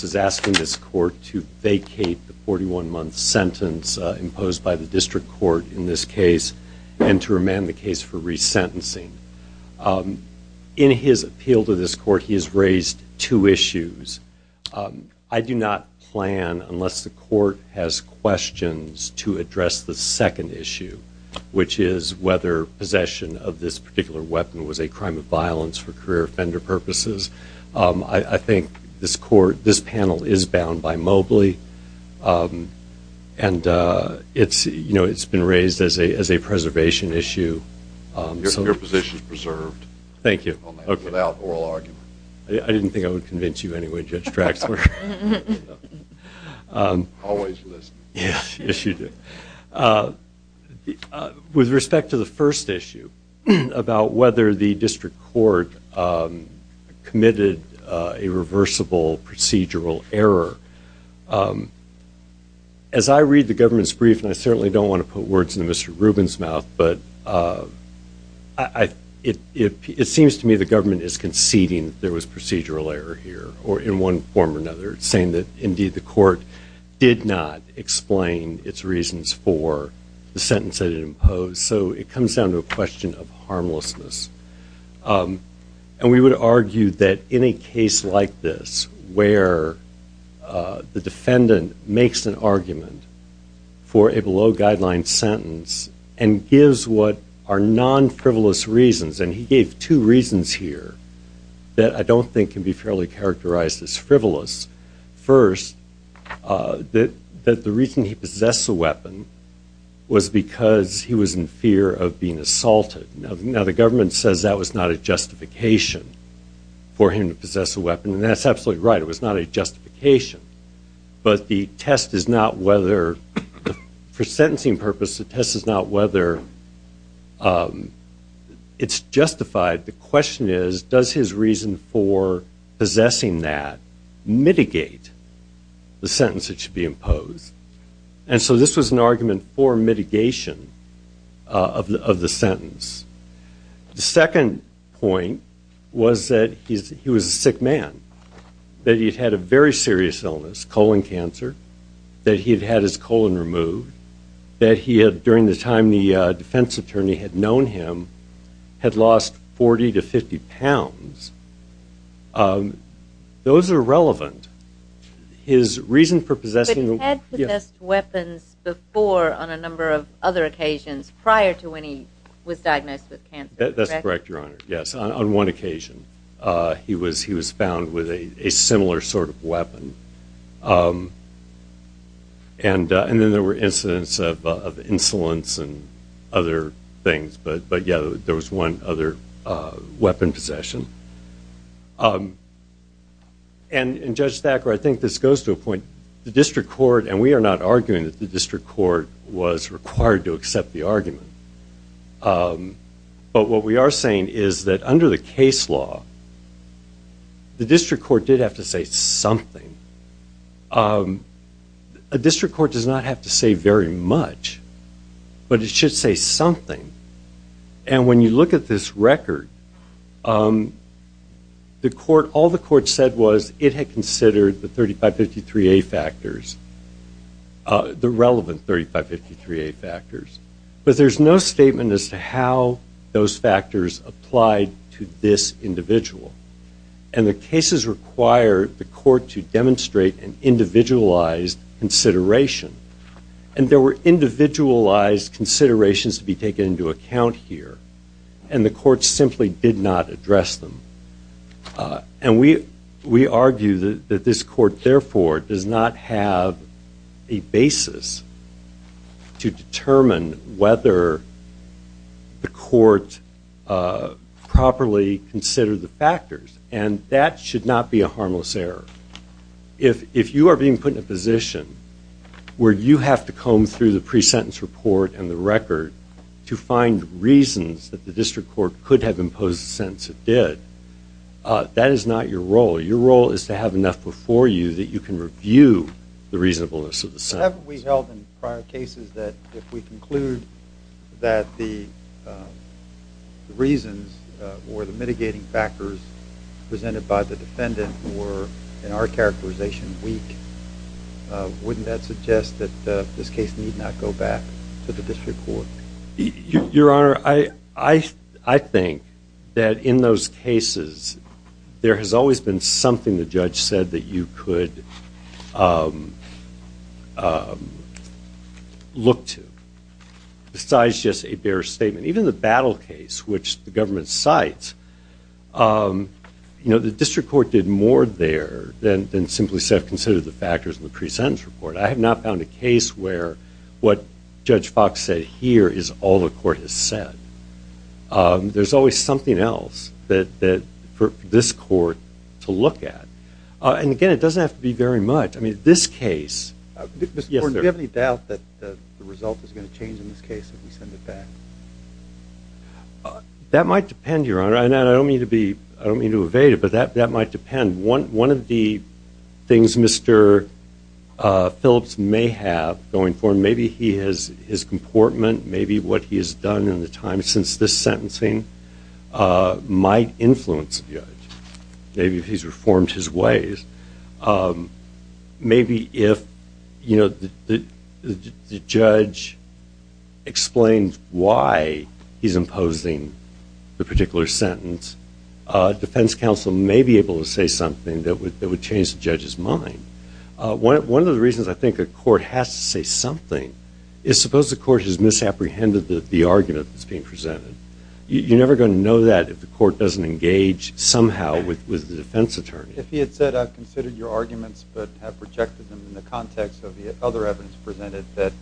is asking this court to vacate the 41-month sentence imposed by the District Court in this case and to remand the case for resentencing. In his appeal to this court, he has raised two issues. I do not plan, unless the court has questions, to address the second issue, which is whether possession of this particular weapon was a crime of violence for career offender purposes. I think this panel is bound by Mobley, and it's been raised as a preservation issue. Your position is preserved. Thank you. Without oral argument. I didn't think I would convince you anyway, Judge Traxler. Always listening. Yes, you do. With respect to the first issue, about whether the District Court committed a reversible procedural error, as I read the government's brief, and I certainly don't want to put words in Mr. Rubin's mouth, but it seems to me the government is conceding that there was procedural error here, or in one form or another, saying that indeed the court did not explain its reasons for the sentence that it imposed. So it comes down to a question of harmlessness. And we would argue that in a case like this, where the defendant makes an argument for a below-guideline sentence and gives what are non-frivolous reasons, and he gave two reasons here that I don't think can be fairly characterized as frivolous. First, that the reason he possessed the weapon was because he was in fear of being assaulted. Now, the government says that was not a justification for him to possess a weapon, and that's absolutely right. It was not a justification. But the test is not whether, for sentencing purposes, the test is not whether it's justified. The question is, does his reason for possessing that mitigate the sentence that should be imposed? And so this was an argument for mitigation of the sentence. The second point was that he was a sick man, that he'd had a very serious illness, colon cancer, that he'd had his colon removed, that he had, during the time the defense attorney had known him, had lost 40 to 50 pounds. Those are relevant. His reason for possessing the weapon... But he had possessed weapons before on a number of other occasions prior to when he was diagnosed with cancer, correct? That's correct, Your Honor, yes, on one occasion. He was found with a similar sort of weapon. And then there were incidents of insolence and other things, but yeah, there was one other weapon possession. And Judge Thacker, I think this goes to a point, the district court, and we are not arguing that the district court was required to accept the argument, but what we are saying is that under the case law, the district court did have to say something. A district court does not have to say very much, but it should say something. And when you look at this record, all the court said was it had considered the 3553A factors, the relevant 3553A factors, but there's no statement as to how those factors applied to this individual. And the cases require the court to demonstrate an individualized consideration. And there were individualized considerations to be taken into account here, and the court simply did not address them. And we argue that this court, therefore, does not have a basis to determine whether the court properly considered the factors, and that should not be a harmless error. If you are being put in a position where you have to comb through the pre-sentence report and the record to find reasons that the district court could have imposed the sentence it did, that is not your role. Your role is to have enough before you that you can review the reasonableness of the sentence. Whatever we held in prior cases, if we conclude that the reasons or the mitigating factors presented by the defendant were, in our characterization, weak, wouldn't that suggest that this case need not go back to the district court? Your Honor, I think that in those cases, there has always been something the judge said that you could look to. Besides just a bare statement, even the battle case, which the government cites, the district court did more there than simply said, consider the factors in the pre-sentence report. I have not found a case where what Judge Fox said here is all the court has said. There's always something else for this court to look at. And again, it doesn't have to be very much. I mean, this case... Mr. Gordon, do you have any doubt that the result is going to change in this case if we send it back? That might depend, Your Honor. I don't mean to evade it, but that might depend. One of the things Mr. Phillips may have going for him, maybe his comportment, maybe what he has done in the time since this sentencing might influence the judge. Maybe he's reformed his ways. Maybe if the judge explains why he's imposing the particular sentence, defense counsel may be able to say something that would change the judge's mind. One of the reasons I think a court has to say something is, suppose the court has misapprehended the argument that's being presented. You're never going to know that if the court doesn't engage somehow with the defense attorney. If he had said, I've considered your arguments, but have rejected them in the context of the other evidence presented that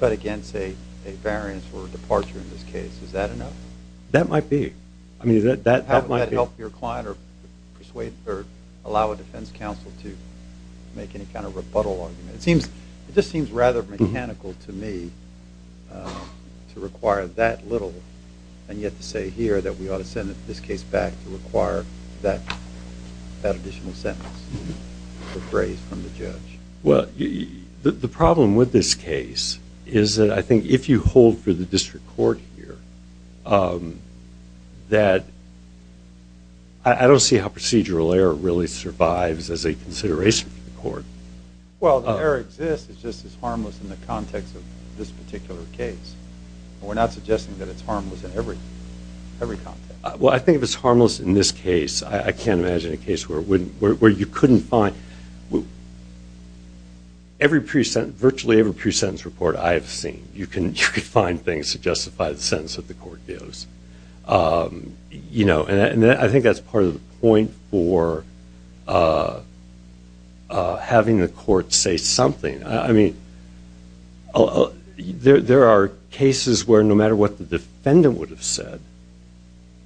cut against a variance or a departure in this case, is that enough? That might be. That might help your client or allow a defense counsel to make any kind of rebuttal argument. It just seems rather mechanical to me to require that little, and yet to say here that we ought to send this case back to require that additional sentence or phrase from the judge. Well, the problem with this case is that I think if you hold for the district court here, that I don't see how procedural error really survives as a consideration for the court. Well, the error exists. It's just it's harmless in the context of this particular case. We're not suggesting that it's harmless in every context. Well, I think if it's harmless in this case, I can't imagine a case where you couldn't find virtually every pre-sentence report I have seen. You can find things to justify the sentence that the court gives. I think that's part of the point for having the court say something. I mean, there are cases where no matter what the defendant would have said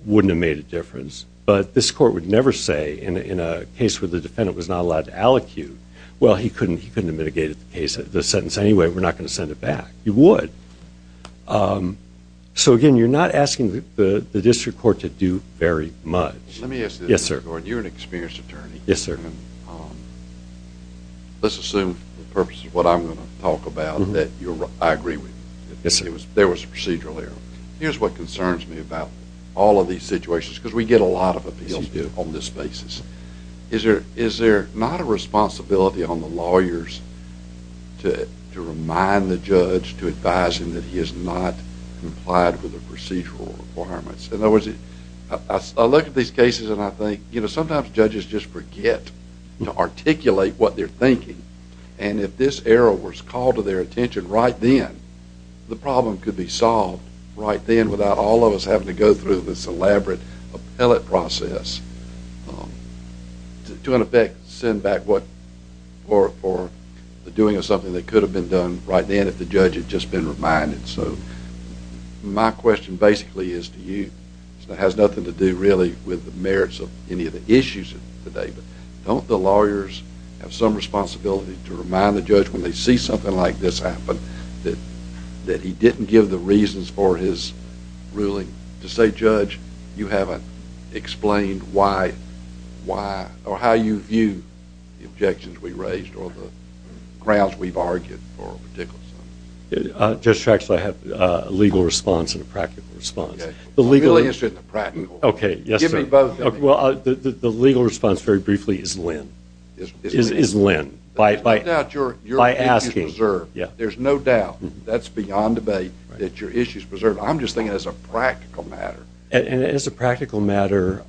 wouldn't have made a difference, but this court would never say in a case where the defendant was not allowed to allocute, well, he couldn't have mitigated the sentence anyway. We're not going to send it back. You would. So, again, you're not asking the district court to do very much. Let me ask you this, Gordon. You're an experienced attorney. Yes, sir. And let's assume the purpose of what I'm going to talk about that I agree with. Yes, sir. There was a procedural error. Here's what concerns me about all of these situations, because we get a lot of appeals on this basis. Is there not a responsibility on the lawyers to remind the judge, to advise him that he has not complied with the procedural requirements? In other words, I look at these cases and I think, you know, sometimes judges just forget to articulate what they're thinking, and if this error was called to their attention right then, the problem could be solved right then without all of us having to go through this elaborate appellate process to, in effect, send back for the doing of something that could have been done right then if the judge had just been reminded. So my question basically is to you. It has nothing to do, really, with the merits of any of the issues today, but don't the lawyers have some responsibility to remind the judge, when they see something like this happen, that he didn't give the reasons for his ruling to say, Judge, you haven't explained why or how you view the objections we raised or the grounds we've argued for a particular sentence? Judge Traxler, I have a legal response and a practical response. Okay. I'm really interested in the practical. Okay. Yes, sir. Give me both. Well, the legal response, very briefly, is Lynn. Is Lynn. Is Lynn. By asking. There's no doubt, that's beyond debate, that your issue is preserved. I'm just thinking as a practical matter. And as a practical matter,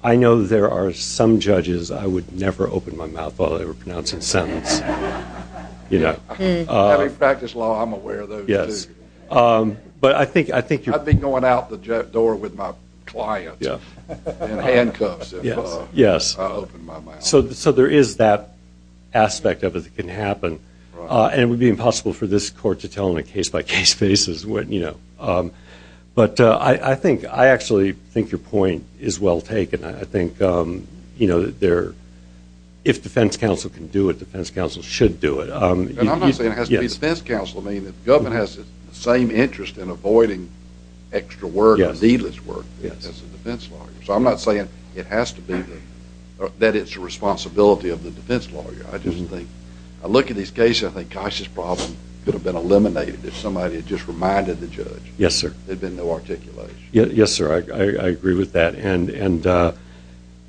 I know there are some judges, I would never open my mouth while they were pronouncing a sentence. Having practiced law, I'm aware of those, too. I'd be going out the door with my clients in handcuffs if I opened my mouth. Yes. So there is that aspect of it that can happen. And it would be impossible for this court to tell on a case-by-case basis. But I actually think your point is well taken. I think if defense counsel can do it, defense counsel should do it. And I'm not saying it has to be defense counsel. I mean, the government has the same interest in avoiding extra work or needless work as a defense lawyer. So I'm not saying that it's the responsibility of the defense lawyer. I just think, I look at these cases, I think, gosh, this problem could have been eliminated if somebody had just reminded the judge. Yes, sir. There'd been no articulation. Yes, sir. I agree with that. And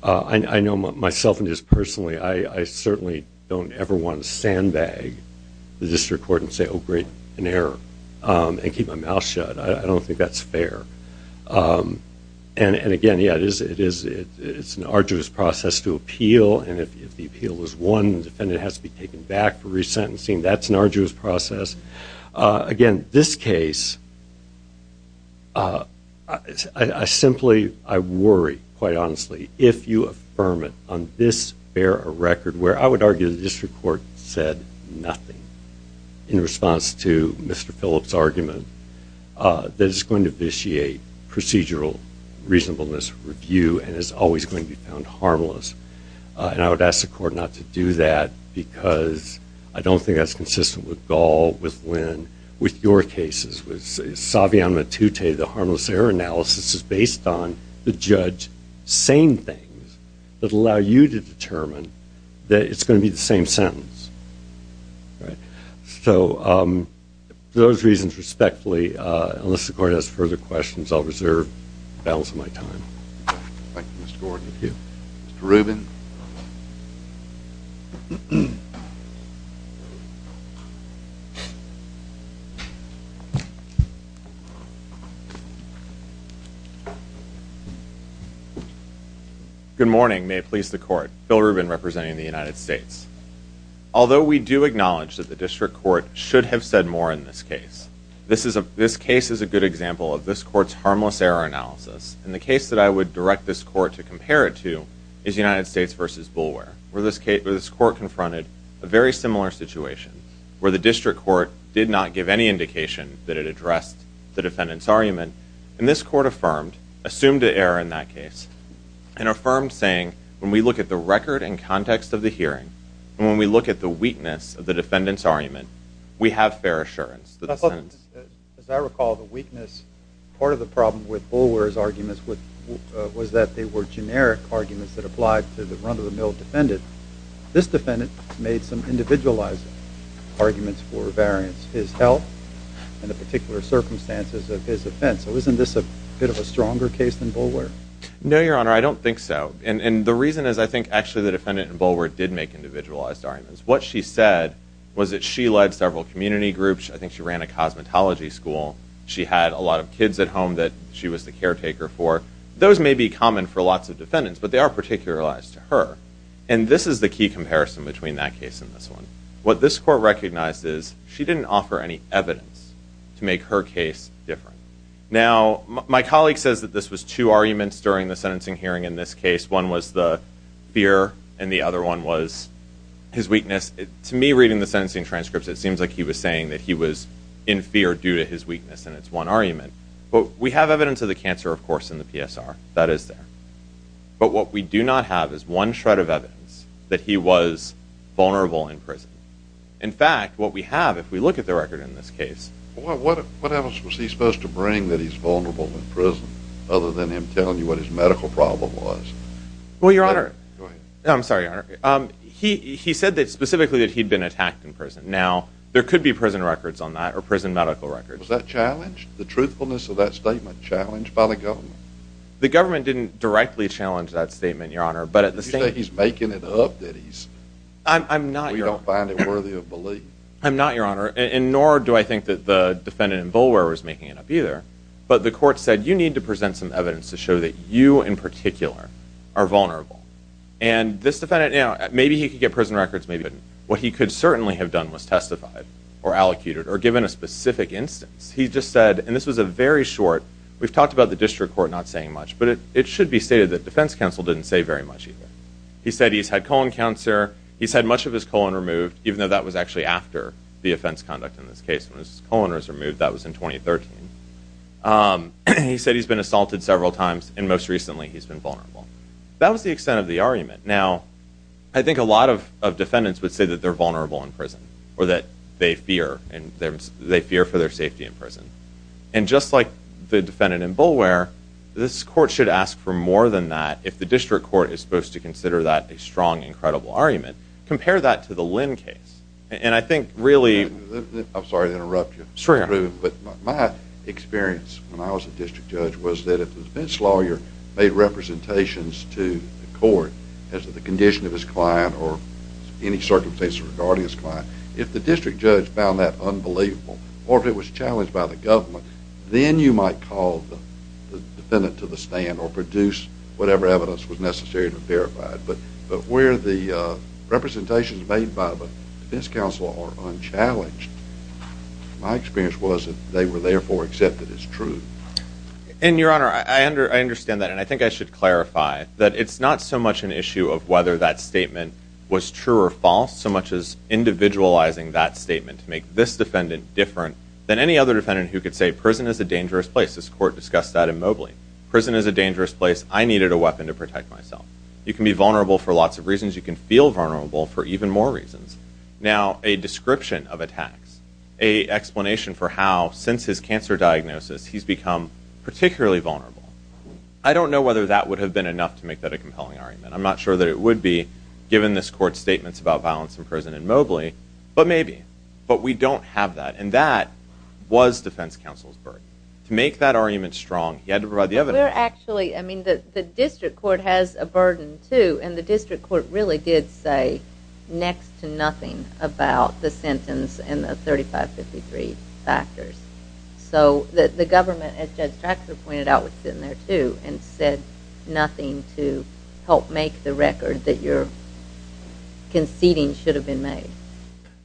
I know myself and just personally, I certainly don't ever want to sandbag the district court and say, oh, great, an error, and keep my mouth shut. I don't think that's fair. And, again, yeah, it is an arduous process to appeal. And if the appeal is won, the defendant has to be taken back for resentencing. That's an arduous process. Again, this case, I simply, I worry, quite honestly, if you affirm it on this fair record where I would argue the district court said nothing in response to Mr. Phillips' argument that it's going to initiate procedural reasonableness review and is always going to be found harmless. And I would ask the court not to do that because I don't think that's consistent with Gaul, with Lynn, with your cases. With Savian Matute, the harmless error analysis is based on the judge saying things that allow you to determine that it's going to be the same sentence. So for those reasons, respectfully, unless the court has further questions, I'll reserve the balance of my time. Thank you, Mr. Gordon. Thank you. Mr. Rubin. Good morning. May it please the court. Bill Rubin representing the United States. Although we do acknowledge that the district court should have said more in this case, this case is a good example of this court's harmless error analysis. And the case that I would direct this court to compare it to is United States v. Boulware, where this court confronted a very similar situation, where the district court did not give any indication that it addressed the defendant's argument. And this court affirmed, assumed an error in that case, and affirmed saying when we look at the record and context of the hearing, and when we look at the weakness of the defendant's argument, we have fair assurance. As I recall, the weakness, part of the problem with Boulware's argument was that they were generic arguments that applied to the run-of-the-mill defendant. This defendant made some individualized arguments for variance. His health and the particular circumstances of his offense. So isn't this a bit of a stronger case than Boulware? No, Your Honor, I don't think so. And the reason is I think actually the defendant in Boulware did make individualized arguments. What she said was that she led several community groups. I think she ran a cosmetology school. She had a lot of kids at home that she was the caretaker for. Those may be common for lots of defendants, but they are particularized to her. And this is the key comparison between that case and this one. What this court recognized is she didn't offer any evidence to make her case different. Now, my colleague says that this was two arguments during the sentencing hearing in this case. One was the fear, and the other one was his weakness. To me, reading the sentencing transcripts, it seems like he was saying that he was in fear due to his weakness, and it's one argument. But we have evidence of the cancer, of course, in the PSR. That is there. But what we do not have is one shred of evidence that he was vulnerable in prison. In fact, what we have, if we look at the record in this case— What else was he supposed to bring that he's vulnerable in prison, other than him telling you what his medical problem was? Well, Your Honor— Go ahead. I'm sorry, Your Honor. He said specifically that he'd been attacked in prison. Now, there could be prison records on that or prison medical records. Was that challenged? The truthfulness of that statement challenged by the government? The government didn't directly challenge that statement, Your Honor. But at the same time— Did you say he's making it up that he's— I'm not, Your Honor. We don't find it worthy of belief. I'm not, Your Honor. And nor do I think that the defendant in Boulware was making it up either. But the court said, you need to present some evidence to show that you in particular are vulnerable. And this defendant— Maybe he could get prison records. Maybe he couldn't. What he could certainly have done was testified or allocated or given a specific instance. He just said— And this was a very short— We've talked about the district court not saying much, but it should be stated that defense counsel didn't say very much either. He said he's had colon cancer. He's had much of his colon removed, even though that was actually after the offense conduct in this case. When his colon was removed, that was in 2013. He said he's been assaulted several times, and most recently he's been vulnerable. That was the extent of the argument. Now, I think a lot of defendants would say that they're vulnerable in prison or that they fear for their safety in prison. And just like the defendant in Boulware, this court should ask for more than that if the district court is supposed to consider that a strong and credible argument. Compare that to the Lynn case. And I think really— I'm sorry to interrupt you. Sure, Your Honor. But my experience when I was a district judge was that if the defense lawyer made representations to the court as to the condition of his client or any circumstances regarding his client, if the district judge found that unbelievable or if it was challenged by the government, then you might call the defendant to the stand or produce whatever evidence was necessary to verify it. But where the representations made by the defense counsel are unchallenged, my experience was that they were therefore accepted as true. And, Your Honor, I understand that. And I think I should clarify that it's not so much an issue of whether that statement was true or false so much as individualizing that statement to make this defendant different than any other defendant who could say prison is a dangerous place. This court discussed that in Mobley. Prison is a dangerous place. I needed a weapon to protect myself. You can be vulnerable for lots of reasons. You can feel vulnerable for even more reasons. Now, a description of attacks, a explanation for how, since his cancer diagnosis, he's become particularly vulnerable, I don't know whether that would have been enough to make that a compelling argument. I'm not sure that it would be, given this court's statements about violence in prison in Mobley, but maybe. But we don't have that. And that was defense counsel's work. To make that argument strong, he had to provide the evidence. We're actually, I mean, the district court has a burden, too, and the district court really did say next to nothing about the sentence and the 3553 factors. So the government, as Judge Traxler pointed out, was sitting there, too, and said nothing to help make the record that your conceding should have been made.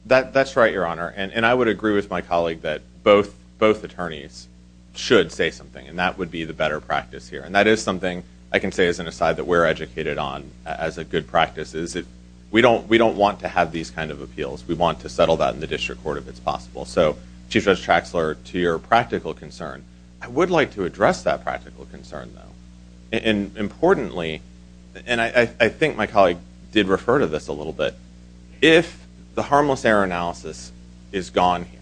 That's right, Your Honor. And I would agree with my colleague that both attorneys should say something, and that would be the better practice here. And that is something I can say as an aside that we're educated on as a good practice, is we don't want to have these kind of appeals. We want to settle that in the district court if it's possible. So, Chief Judge Traxler, to your practical concern, I would like to address that practical concern, though. And importantly, and I think my colleague did refer to this a little bit, if the harmless error analysis is gone here,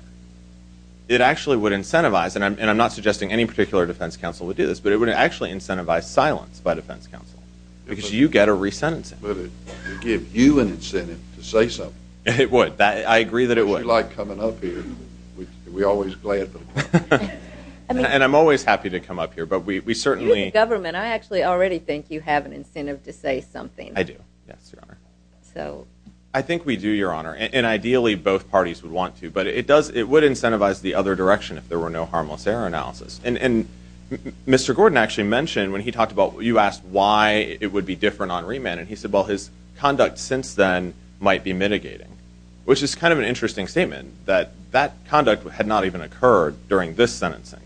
it actually would incentivize, and I'm not suggesting any particular defense counsel would do this, but it would actually incentivize silence by defense counsel because you get a re-sentencing. But it would give you an incentive to say something. It would. I agree that it would. If you like coming up here, we're always glad for you. And I'm always happy to come up here, but we certainly... You're in government. I actually already think you have an incentive to say something. I do. Yes, Your Honor. So... I think we do, Your Honor. And ideally, both parties would want to, but it would incentivize the other direction if there were no harmless error analysis. And Mr. Gordon actually mentioned, when he talked about... You asked why it would be different on remand, and he said, well, his conduct since then might be mitigating, which is kind of an interesting statement, that that conduct had not even occurred during this sentencing.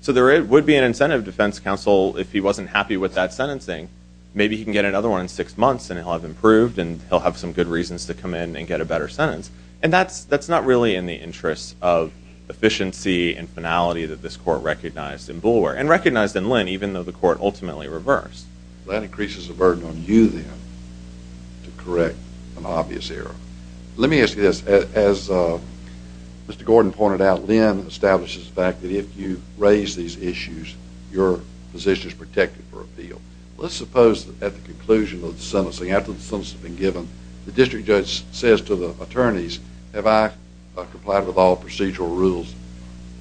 So there would be an incentive defense counsel, if he wasn't happy with that sentencing, maybe he can get another one in six months, and he'll have improved, and he'll have some good reasons to come in and get a better sentence. And that's not really in the interest of efficiency and finality that this court recognized in Boulware, and recognized in Lynn, even though the court ultimately reversed. That increases the burden on you, then, to correct an obvious error. Let me ask you this. As Mr. Gordon pointed out, Lynn establishes the fact that if you raise these issues, your position is protected for appeal. Let's suppose that at the conclusion of the sentencing, after the sentence has been given, the district judge says to the attorneys, have I complied with all procedural rules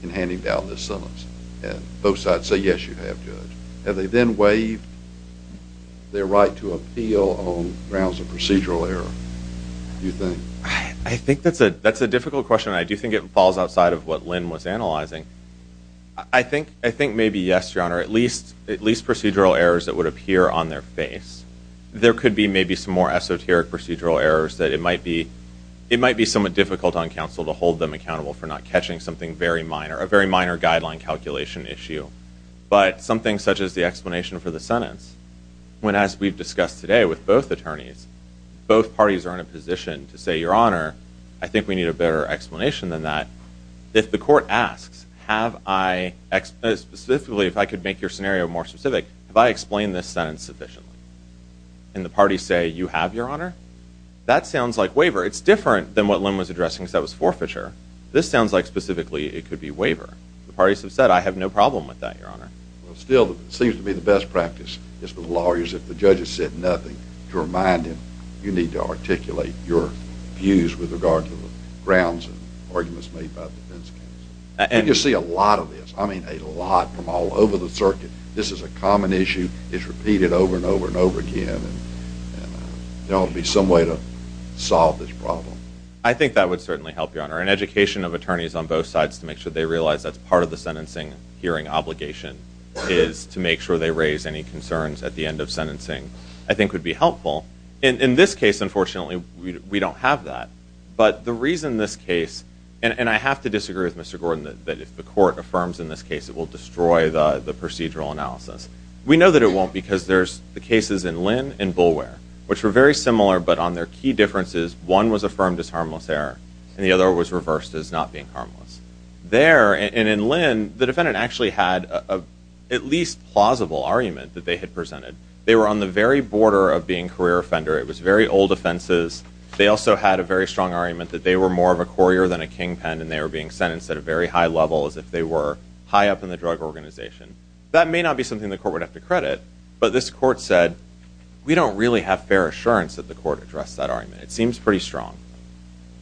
in handing down this sentence? And both sides say, yes, you have, Judge. Have they then waived their right to appeal on grounds of procedural error, do you think? I think that's a difficult question, and I do think it falls outside of what Lynn was analyzing. I think maybe yes, Your Honor, at least procedural errors that would appear on their face. There could be maybe some more esoteric procedural errors that it might be somewhat difficult on counsel to hold them accountable for not catching something very minor, a very minor guideline calculation issue. But something such as the explanation for the sentence, when as we've discussed today with both attorneys, both parties are in a position to say, Your Honor, I think we need a better explanation than that. If the court asks, have I, specifically if I could make your scenario more specific, have I explained this sentence sufficiently? And the parties say, you have, Your Honor? That sounds like waiver. It's different than what Lynn was addressing, because that was forfeiture. This sounds like specifically it could be waiver. The parties have said, I have no problem with that, Your Honor. Still, it seems to me the best practice is for the lawyers, if the judge has said nothing, to remind him, you need to articulate your views with regard to the grounds and arguments made by the defense counsel. And you see a lot of this. I mean a lot from all over the circuit. This is a common issue. It's repeated over and over and over again, I think that would certainly help, Your Honor. An education of attorneys on both sides to make sure they realize that's part of the sentencing hearing obligation is to make sure they raise any concerns at the end of sentencing, I think would be helpful. In this case, unfortunately, we don't have that. But the reason this case, and I have to disagree with Mr. Gordon that if the court affirms in this case, it will destroy the procedural analysis. We know that it won't, because there's the cases in Lynn and Boulware, which were very similar, but on their key differences, one was affirmed as harmless error and the other was reversed as not being harmless. There, and in Lynn, the defendant actually had at least plausible argument that they had presented. They were on the very border of being career offender. It was very old offenses. They also had a very strong argument that they were more of a courier than a kingpin and they were being sentenced at a very high level as if they were high up in the drug organization. That may not be something the court would have to credit, but this court said, we don't really have fair assurance that the court addressed that argument. It seems pretty strong.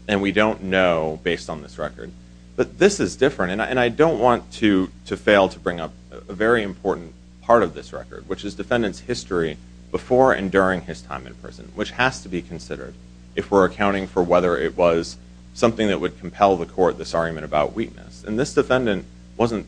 And we don't know based on this record. But this is different, and I don't want to fail to bring up a very important part of this record, which is defendant's history before and during his time in prison, which has to be considered if we're accounting for whether it was something that would compel the court this argument about weakness. And this defendant wasn't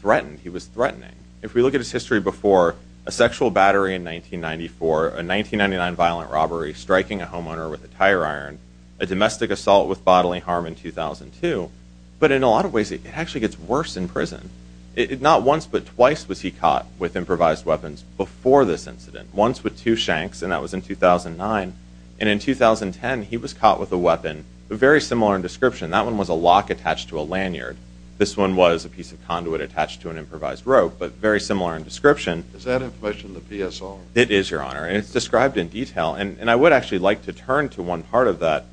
threatened. He was threatening. If we look at his history before, a sexual battery in 1994, a 1999 violent robbery, striking a homeowner with a tire iron, a domestic assault with bodily harm in 2002. But in a lot of ways, it actually gets worse in prison. Not once, but twice, was he caught with improvised weapons before this incident. Once with two shanks, and that was in 2009. And in 2010, he was caught with a weapon very similar in description. That one was a lock attached to a lanyard. This one was a piece of conduit attached to an improvised rope, but very similar in description. Is that information the PSO? It is, Your Honor. And it's described in detail. And I would actually like to turn to one part of that,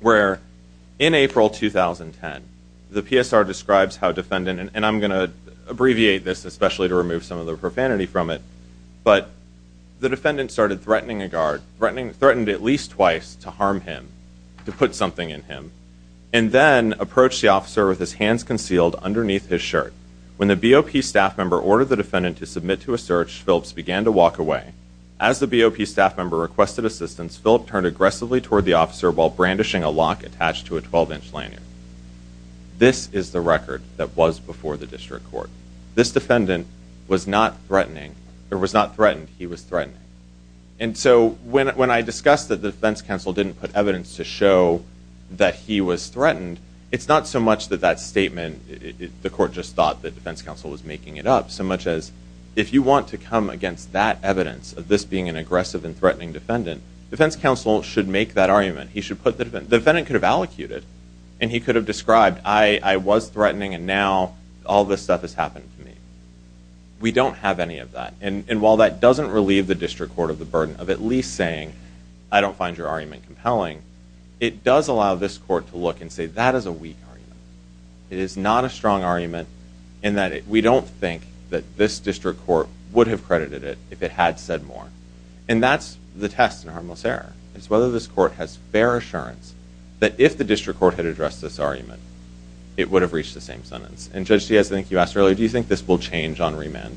where in April 2010, the PSR describes how defendant, and I'm going to abbreviate this, especially to remove some of the profanity from it, but the defendant started threatening a guard, threatened at least twice to harm him, to put something in him, and then approached the officer with his hands concealed underneath his shirt. When the BOP staff member ordered the defendant to submit to a search, Phillips began to walk away. As the BOP staff member requested assistance, Phillips turned aggressively toward the officer while brandishing a lock attached to a 12-inch lanyard. This is the record that was before the district court. This defendant was not threatening, or was not threatened, he was threatening. And so when I discussed that the defense counsel didn't put evidence to show that he was threatened, it's not so much that that statement, the court just thought that the defense counsel was making it up, so much as if you want to come against that evidence of this being an aggressive and threatening defendant, the defense counsel should make that argument. The defendant could have allocated, and he could have described, I was threatening, and now all this stuff has happened to me. We don't have any of that. And while that doesn't relieve the district court of the burden of at least saying, I don't find your argument compelling, it does allow this court to look and say, that is a weak argument. It is not a strong argument in that we don't think that this district court would have credited it if it had said more. And that's the test in harmless error. It's whether this court has fair assurance that if the district court had addressed this argument, it would have reached the same sentence. And Judge Diaz, I think you asked earlier, do you think this will change on remand?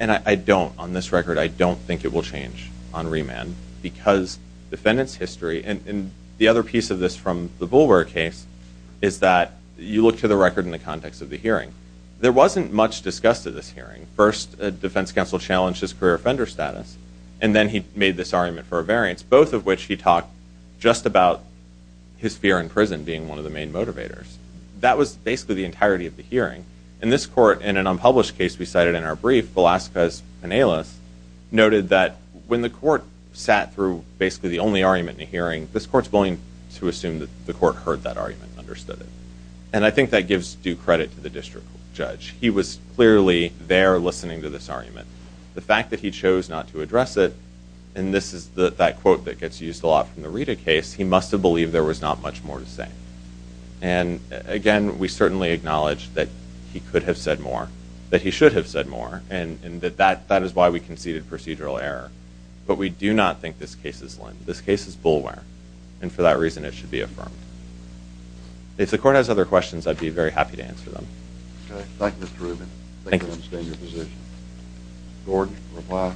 And I don't. On this record, I don't think it will change on remand, because defendant's history, and the other piece of this from the Bulwer case, is that you look to the record in the context of the hearing. There wasn't much discussed at this hearing. First, defense counsel challenged his career and his offender status. And then he made this argument for a variance, both of which he talked just about his fear in prison being one of the main motivators. That was basically the entirety of the hearing. And this court, in an unpublished case we cited in our brief, Velazquez-Penales, noted that when the court sat through basically the only argument in the hearing, this court's willing to assume that the court heard that argument and understood it. And I think that gives due credit to the district judge. He was clearly there listening to this argument. The fact that he chose not to address it, and this is that quote that gets used a lot from the Rita case, he must have believed there was not much more to say. And again, we certainly acknowledge that he could have said more, that he should have said more, and that that is why we conceded procedural error. But we do not think this case is Linn. This case is Bulwer. And for that reason it should be affirmed. If the court has other questions I'd be very happy to answer them. Okay. Thank you, Mr. Rubin. Thank you. I understand your position. Gordon, reply.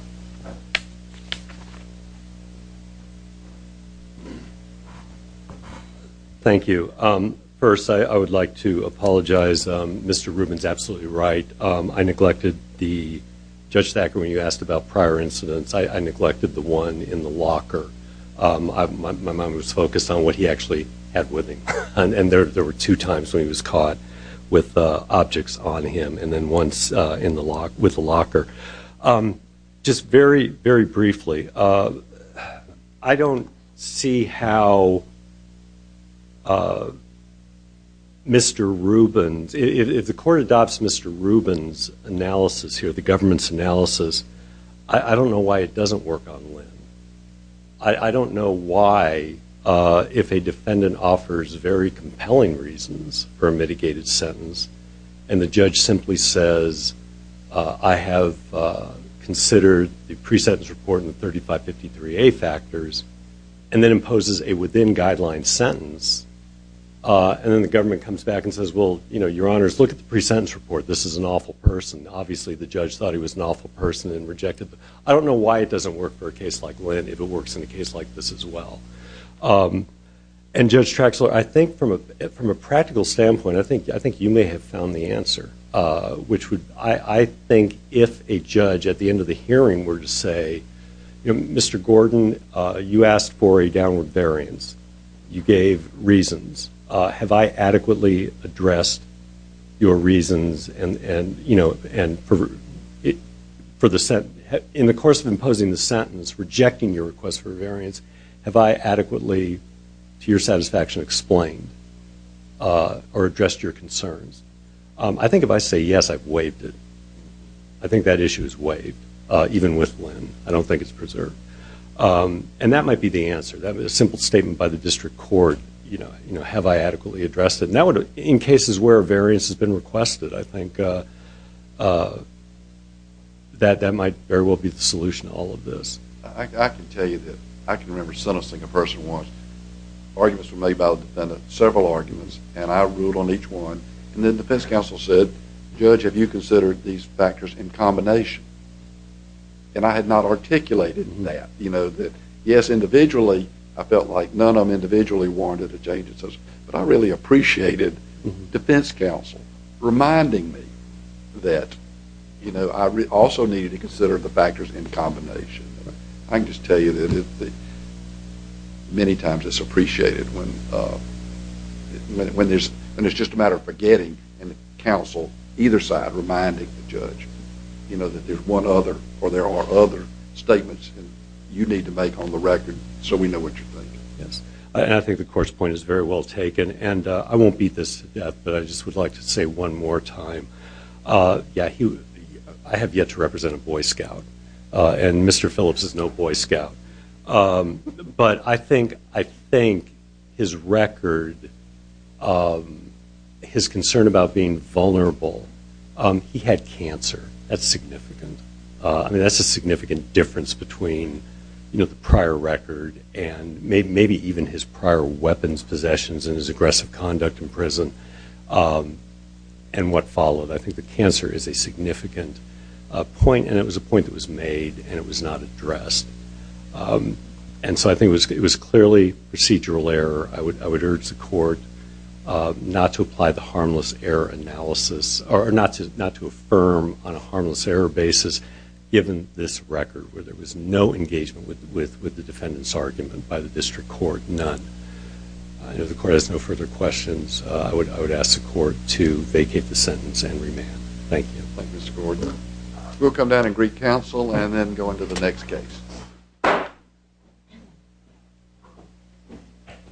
Thank you. First, I would like to apologize. Mr. Rubin's absolutely right. I neglected the Judge Thacker, when you asked about prior incidents, I neglected the one in the locker. My mind was focused on what he actually had with him. And there were two times when he was caught with objects on him. And then once with the locker. Just very, very briefly, I don't see how Mr. Rubin's, if the court adopts Mr. Rubin's analysis here, the government's analysis, I don't know why it doesn't work on Linn. I don't know why if a defendant offers very compelling reasons for a mitigated sentence, and the judge simply says, I have considered the pre-sentence report and the 3553A factors, and then imposes a within-guideline sentence, and then the government comes back and says, well, your honors, look at the pre-sentence report. This is an awful person. Obviously, the judge thought he was an awful person and rejected the, I don't know why it doesn't work for a case like Linn, if it works in a case like this as well. And Judge Traxler, I think from a practical standpoint, I think you may have found the answer, which would, I think if a judge at the end of the hearing were to say, you know, Mr. Gordon, you asked for a downward variance. You gave reasons. Have I adequately addressed your reasons, and you know, and for the, in the course of imposing the sentence, rejecting your request for a variance, have I adequately, to your satisfaction, explained or addressed your concerns? I think if I say, yes, I've waived it, I think that issue is waived, even with Linn. I don't think it's preserved. And that might be the answer. A simple statement by the district court, you know, have I adequately addressed it? Now, in cases where a variance has been requested, I think that that might very well be the solution to all of this. I can tell you that I can remember sentencing a person once. Arguments were made about several arguments, and I ruled on each one. And then defense counsel said, Judge, have you considered these factors in combination? And I had not articulated that, you know, that yes, individually, I felt like none of them individually warranted a change in sentence, but I really appreciated defense counsel reminding me that, you know, I also needed to consider the factors in combination. I can just tell you that many times it's appreciated when there's, and it's just a matter of forgetting, and counsel, either side, reminding the judge, you know, that there's one other, or there are other statements you need to make on the record so we know what you're thinking. Yes, and I think the court's point is very well taken, and I won't beat this, but I just would like to say one more time, yeah, I have yet to represent a Boy Scout, and Mr. Phillips is no Boy Scout, but I think, his record, his concern about being vulnerable, he had cancer. That's significant. I mean, that's a significant difference between, you know, the prior record, and maybe even his prior weapons possessions, and his aggressive conduct in prison, and what followed. I think the cancer is a significant point, and it was a point that was made, and it was not addressed, and so I think it was clearly procedural error. I would urge the court not to apply the harmless error analysis, or not to affirm on a harmless error basis, given this record, where there was no engagement with the defendant's argument by the district court, none. I know the court has no further questions. I would ask the court to vacate the sentence and remand. Thank you. Thank you, Mr. Gordon. We'll come down and greet counsel, and then go into the next case.